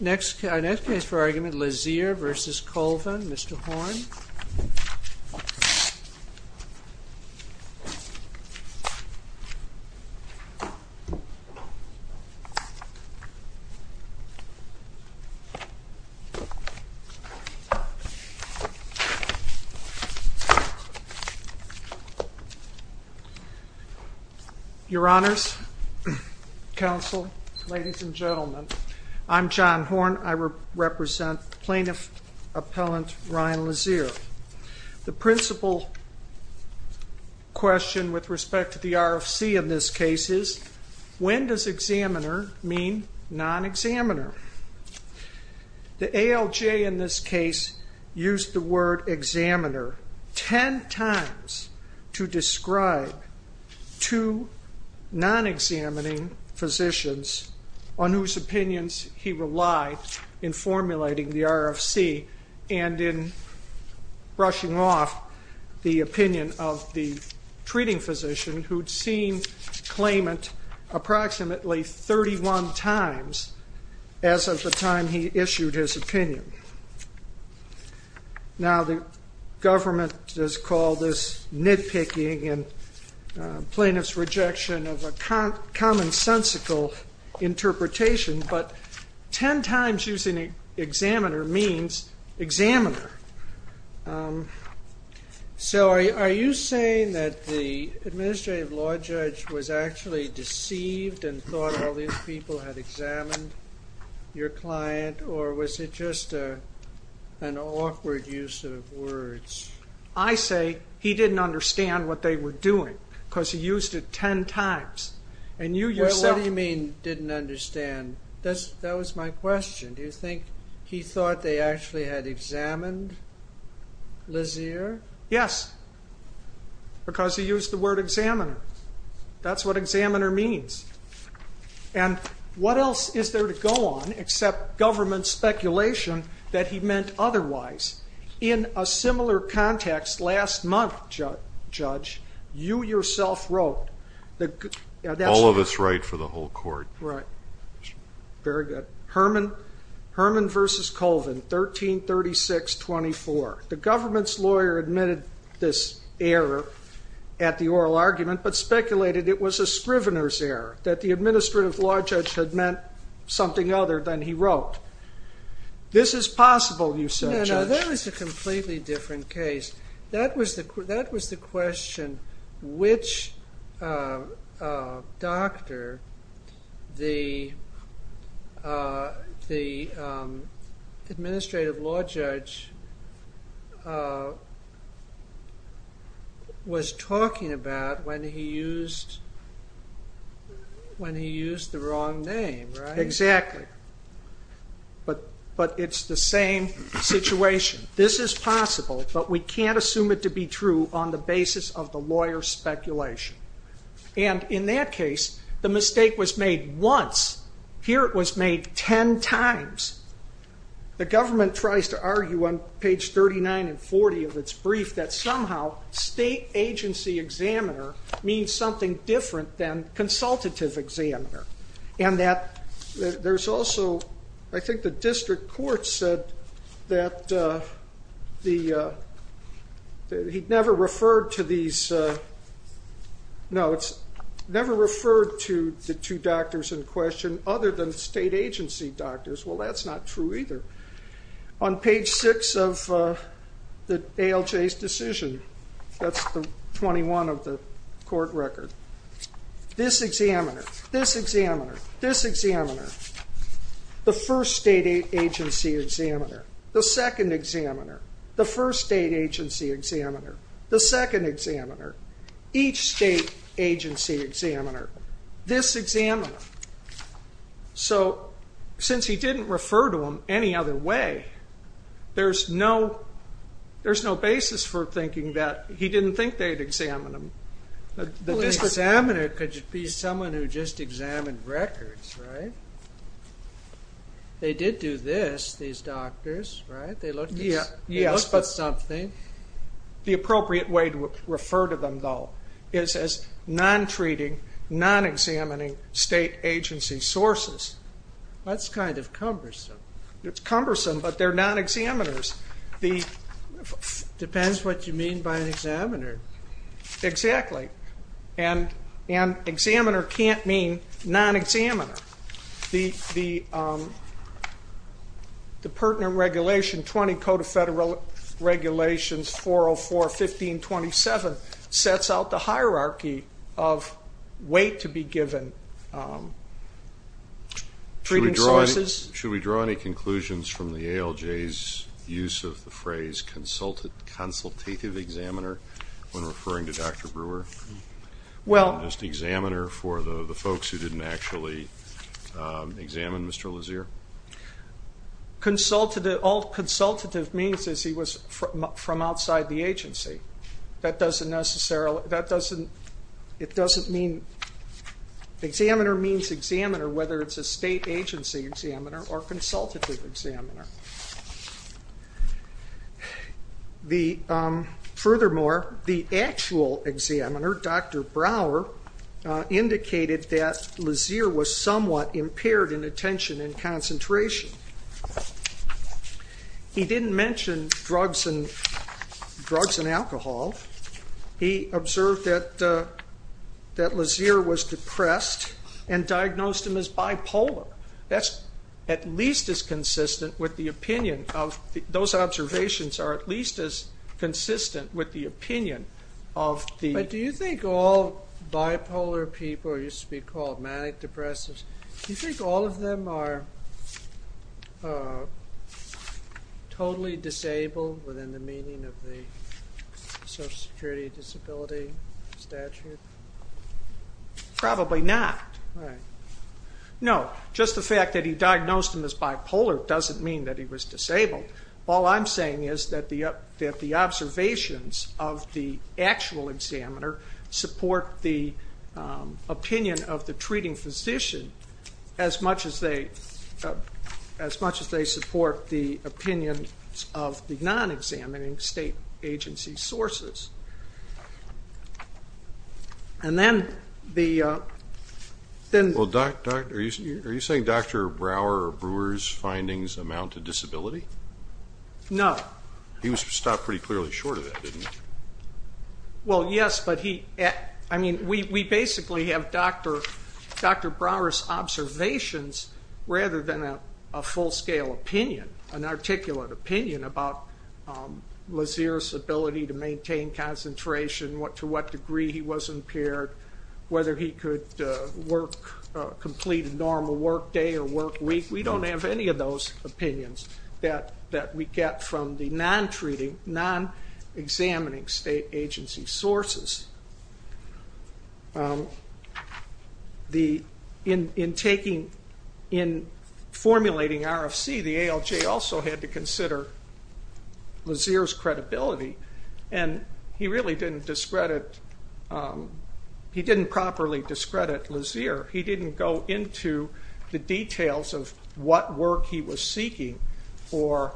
Next case for argument Lazier v. Colvin, Mr. Horne. Your Honors, Counsel, Ladies and Gentlemen, I'm John Horne. I represent Plaintiff Appellant Ryan Lazier. The principal question with respect to the RFC in this case is, when does examiner mean non-examiner? The ALJ in this case used the word examiner ten times to describe two non-examining physicians on whose opinions he relied in formulating the RFC and in brushing off the opinion of the treating physician who'd seen claimant approximately 31 times as of the time he issued his opinion. Now the government has called this nitpicking and plaintiff's rejection of a commonsensical interpretation, but ten times using examiner means examiner. So are you saying that the administrative law judge was actually deceived and thought all these people had examined your client, or was it just an awkward use of words? I say he didn't understand what they were doing, because he used it ten times. And you yourself... What do you mean didn't understand? That was my question. Do you think he thought they actually had examined Lazier? Yes, because he used the word examiner. That's what examiner means. And what else is there to go on except government speculation that he meant otherwise? In a similar context, last month, Judge, you yourself wrote... All of us write for the whole court. Right. Very good. Herman versus Colvin, 1336-24. The government's lawyer admitted this error at the oral argument, but speculated it was a Scrivener's error, that the administrative law judge had meant something other than he No, no, that was a completely different case. That was the question which doctor the administrative law judge was talking about when he used the wrong name, right? Exactly. But it's the same situation. This is possible, but we can't assume it to be true on the basis of the lawyer's speculation. And in that case, the mistake was made once. Here it was made ten times. The government tries to argue on page 39 and 40 of its brief that somehow state agency examiner means something different than consultative examiner. And that there's also... I think the district court said that he never referred to these... No, it's never referred to the two doctors in question other than state agency doctors. Well, that's not true either. On page 6 of ALJ's decision, that's 21 of the court record, this examiner, this examiner, this examiner, the first state agency examiner, the second examiner, the first state agency examiner, this examiner. So since he didn't refer to them any other way, there's no basis for thinking that he didn't think they'd examine him. This examiner could be someone who just examined records, right? They did do this, these doctors, right? They looked at something. The appropriate way to refer to them, though, is as non-treating, non-examining state agency sources. That's kind of cumbersome. It's cumbersome, but they're non-examiners. It depends what you mean by an examiner. Exactly. And examiner can't mean non-examiner. The pertinent regulation, 20 Code of Federal Regulations, 404.15.27, sets out the hierarchy of weight to be given treating sources. Should we draw any conclusions from the ALJ's use of the phrase consultative examiner? When referring to Dr. Brewer? Well... Just examiner for the folks who didn't actually examine Mr. Lazear? All consultative means is he was from outside the agency. That doesn't necessarily, that doesn't, it doesn't mean, examiner means examiner, whether it's a state agency examiner or consultative examiner. Furthermore, the actual examiner, Dr. Brewer, indicated that Lazear was somewhat impaired in attention and concentration. He didn't mention drugs and alcohol. He observed that Lazear was depressed and diagnosed him as bipolar. That's at least as consistent with the opinion of, those observations are at least as consistent with the opinion of the... But do you think all bipolar people, used to be called manic depressives, do you think all of them are totally disabled within the meaning of the social security disability statute? Probably not. No, just the fact that he diagnosed him as bipolar doesn't mean that he was disabled. All I'm saying is that the observations of the actual examiner support the opinion of the treating physician as much as they support the opinion of the non-examining state agency sources. And then the... Are you saying Dr. Brower or Brewer's findings amount to disability? No. He was stopped pretty clearly short of that, didn't he? Well yes, but we basically have Dr. Brower's observations rather than a full scale opinion, an articulate opinion about Lazear's ability to maintain concentration, to what degree he was impaired, whether he could complete a normal work day or work week. We don't have any of those opinions that we get from the non-treating, non-examining state agency sources. In taking, in formulating RFC, the ALJ also had to consider Lazear's credibility and he really didn't discredit, he didn't properly discredit Lazear. He didn't go into the details of what work he was seeking or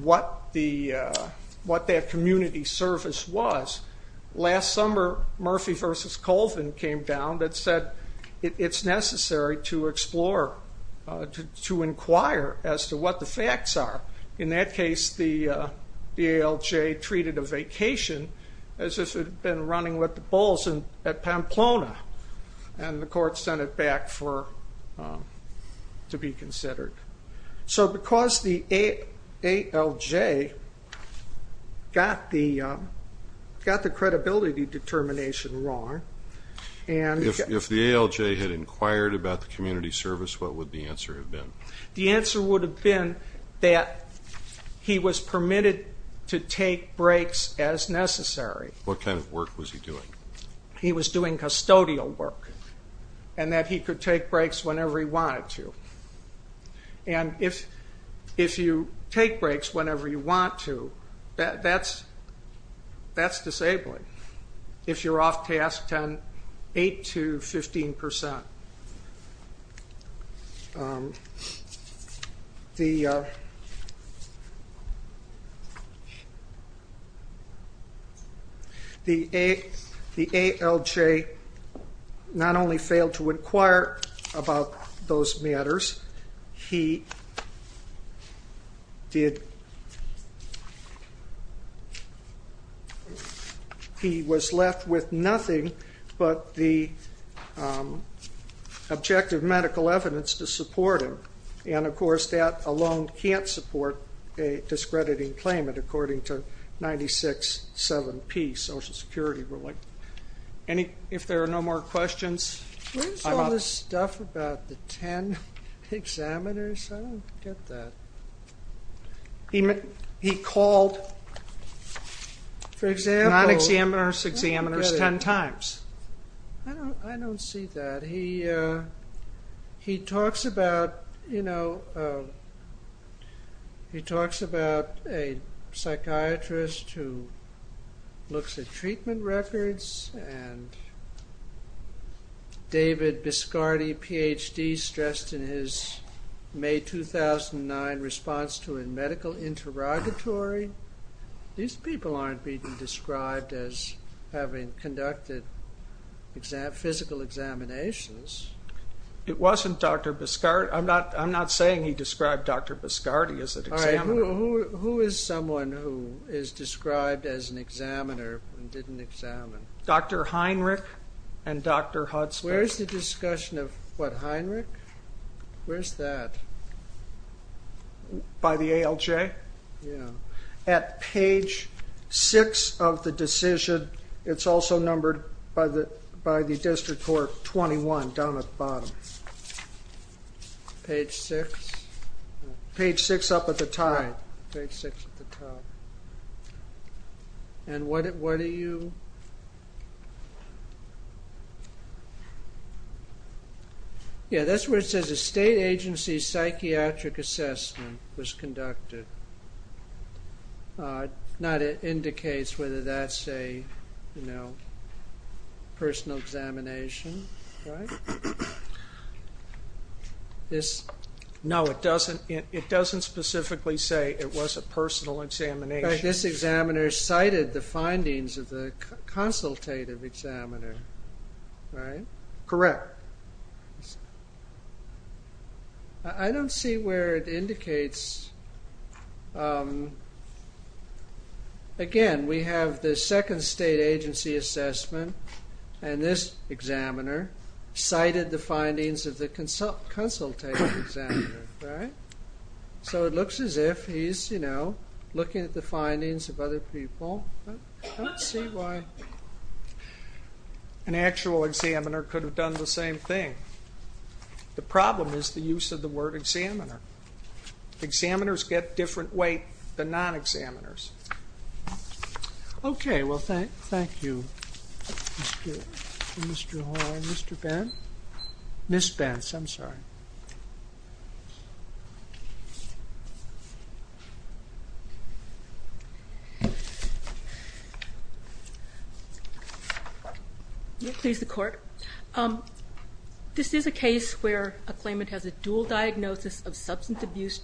what that community service was. Last summer, Murphy v. Colvin came down that said it's necessary to explore, to inquire as to what the facts are. In that case, the ALJ treated a vacation as if it had been running with the bulls at Pamplona and the court sent it back for, to be considered. So because the ALJ got the credibility determination wrong, and... If the ALJ had inquired about the community service, what would the answer have been? The answer would have been that he was permitted to take breaks as necessary. What kind of work was he doing? He was doing custodial work and that he could take breaks whenever he wanted to. And if you take breaks whenever you want to, that's disabling. If you're off task, 8 to 15 percent. The ALJ not only failed to inquire about those matters, he did, he was left with nothing but the objective medical evidence to support him. And of course, that alone can't support a discrediting claimant according to 96-7-P, Social Security ruling. If there are no more questions... Where is all this stuff about the 10 examiners? I don't get that. He called non-examiners, examiners, 10 times. I don't see that. He talks about, you know, he talks about a psychiatrist who looks at medical interrogatory. These people aren't being described as having conducted physical examinations. It wasn't Dr. Biscardi. I'm not saying he described Dr. Biscardi as an examiner. Who is someone who is described as an examiner and didn't examine? Dr. Heinrich and Dr. Hudspeth. Where's the discussion of, what, Heinrich? Where's that? By the ALJ? Yeah. At page 6 of the decision, it's also numbered by the district court 21, down at the bottom. Page 6? Page 6 up at the top. Page 6 at the top. And what are you... Yeah, that's where it says a state agency psychiatric assessment was conducted. Not it indicates whether that's a, you know, personal examination, right? No, it doesn't. It doesn't specifically say it was a personal examination. This examiner cited the findings of the consultative examiner, right? Correct. I don't see where it indicates... Again, we have the second state agency assessment, and this examiner cited the findings of the consultative examiner, right? So it looks as if he's, you know, looking at the findings of other people. I don't see why an actual examiner could have done the same thing. The problem is the use of the word examiner. Examiners get different weight than non-examiners. Okay. Well, thank you, Mr. Hall and Mr. Ben. Ms. Bence, I'm sorry. May it please the Court? This is a case where a claimant has a dual diagnosis of substance abuse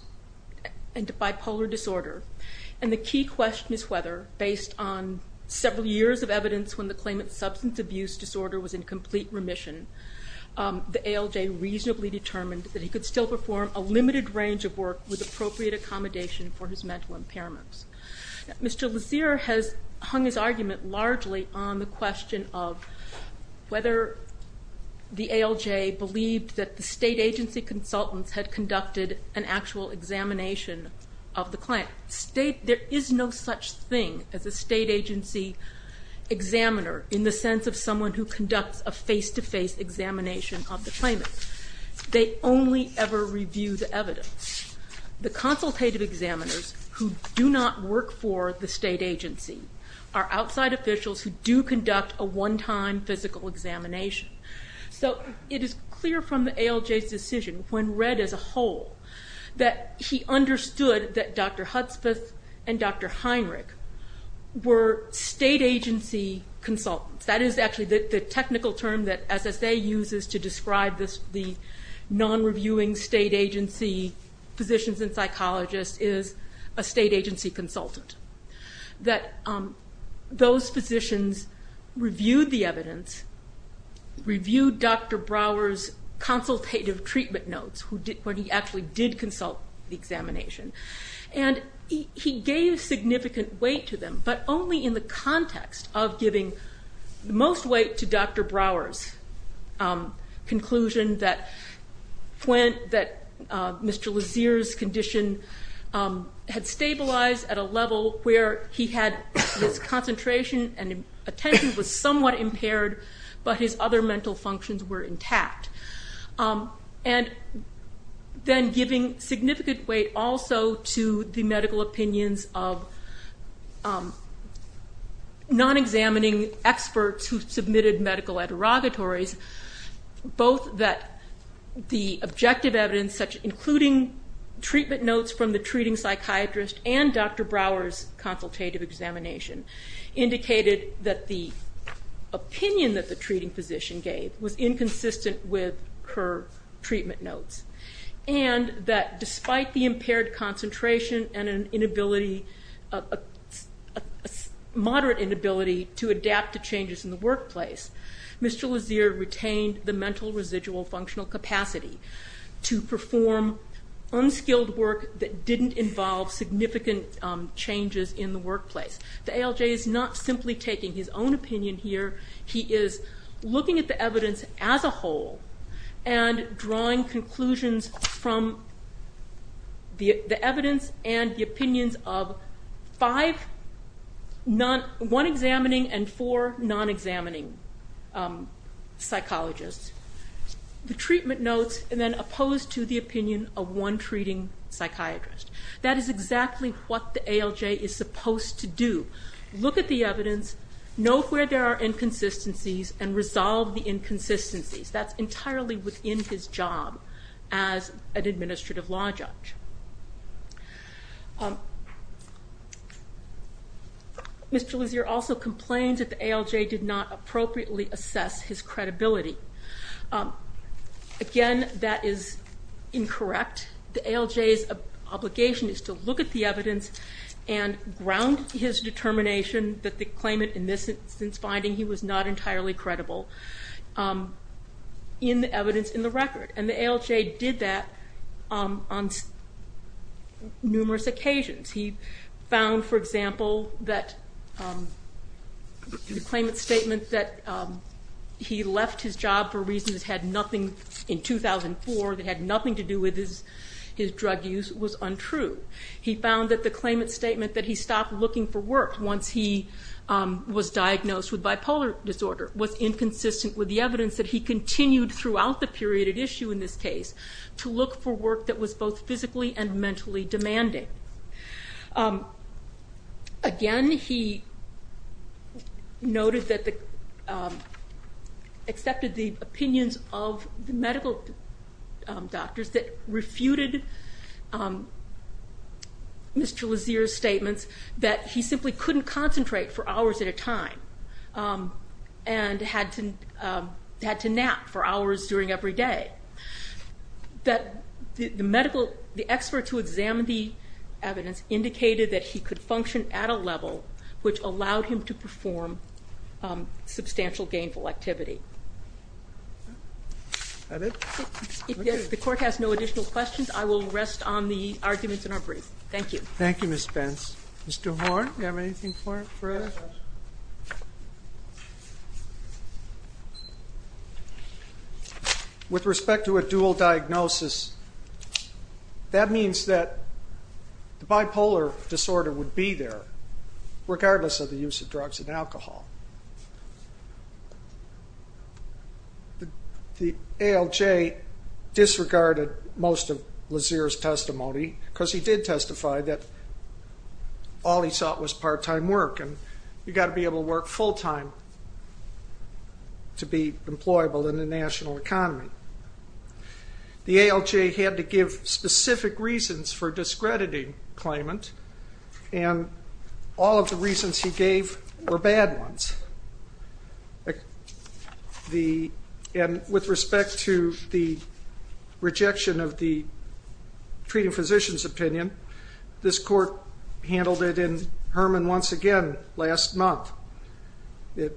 and bipolar disorder, and the key question is whether, based on several years of evidence when the claimant's substance abuse disorder was in complete remission, the ALJ reasonably determined that he could still perform a limited range of work with appropriate accommodation for his mental impairments. Mr. Lazier has hung his argument largely on the question of whether the ALJ believed that the state agency consultants had conducted an actual examination of the client. There is no such thing as a state agency examiner in the sense of someone who conducts a face-to-face examination of the claimant. They only ever review the evidence. The consultative examiners who do not work for the state agency are outside officials who do conduct a one-time physical examination. So it is clear from the ALJ's decision, when read as a whole, that he understood that Dr. Hudspeth and Dr. Heinrich were state agency consultants. That is actually the technical term that SSA uses to describe the non-reviewing state agency physicians and psychologists is a state agency consultant. That those physicians reviewed the evidence, reviewed Dr. Brower's consultative treatment notes when he actually did consult the examination, and he gave significant weight to them, but only in the context of giving most weight to Dr. Brower's conclusion that Mr. Lazier's condition had stabilized at a level where he had his concentration and attention was somewhat impaired, but his other mental functions were intact. And then giving significant weight also to the medical opinions of non-examining experts who submitted medical interrogatories, both that the objective evidence, including treatment notes from the treating psychiatrist and Dr. Brower's consultative examination, indicated that the opinion that the treating physician gave was inconsistent with her treatment notes, and that despite the impaired concentration and a moderate inability to adapt to changes in the workplace, Mr. Lazier retained the mental residual functional capacity to perform unskilled work that didn't involve significant changes in the workplace. The ALJ is not simply taking his own opinion here, he is looking at the evidence as a whole, and drawing conclusions from the evidence and the opinions of one examining and four non-examining psychologists, the treatment notes, and then opposed to the opinion of one treating psychiatrist. That is exactly what the ALJ is supposed to do. Look at the evidence, know where there are inconsistencies, and resolve the inconsistencies. That's entirely within his job as an administrative law judge. Mr. Lazier also complained that the ALJ did not appropriately assess his credibility. Again, that is incorrect. The ALJ's obligation is to look at the evidence and ground his determination that the claimant, in this instance finding he was not entirely credible, in the evidence in the record. The ALJ did that on numerous occasions. He found, for example, that the claimant's statement that he left his job for reasons that had nothing in 2004, that had nothing to do with his drug use, was untrue. He found that the claimant's statement that he stopped looking for work once he was diagnosed with bipolar disorder was inconsistent with the evidence that he continued throughout the period at issue in this case to look for work that was both physically and mentally demanding. Again, he noted that he accepted the opinions of the medical doctors that refuted Mr. Lazier's statements that he simply couldn't concentrate for hours at a time and had to nap for hours during every day. The medical experts who examined the evidence indicated that he could function at a level which allowed him to perform substantial gainful activity. If the court has no additional questions, I will rest on the arguments in our brief. Thank you. Thank you, Ms. Pence. Mr. Horn, do you have anything for us? With respect to a dual diagnosis, that means that the bipolar disorder would be there regardless of the use of drugs and alcohol. The ALJ disregarded most of Lazier's testimony because he did testify that all he sought was part-time work and you've got to be able to work full-time to be employable in the national economy. The ALJ had to give specific reasons for discrediting claimant and all of the reasons he gave were bad ones. With respect to the rejection of the treating physician's opinion, this court handled it in Herman once again last month. It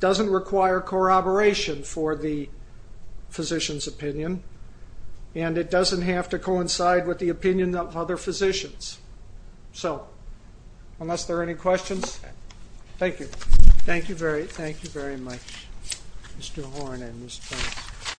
doesn't require corroboration for the physician's opinion and it doesn't have to coincide with the opinion of other physicians. So, unless there are any questions, thank you. Thank you very much, Mr. Horn and Ms. Pence.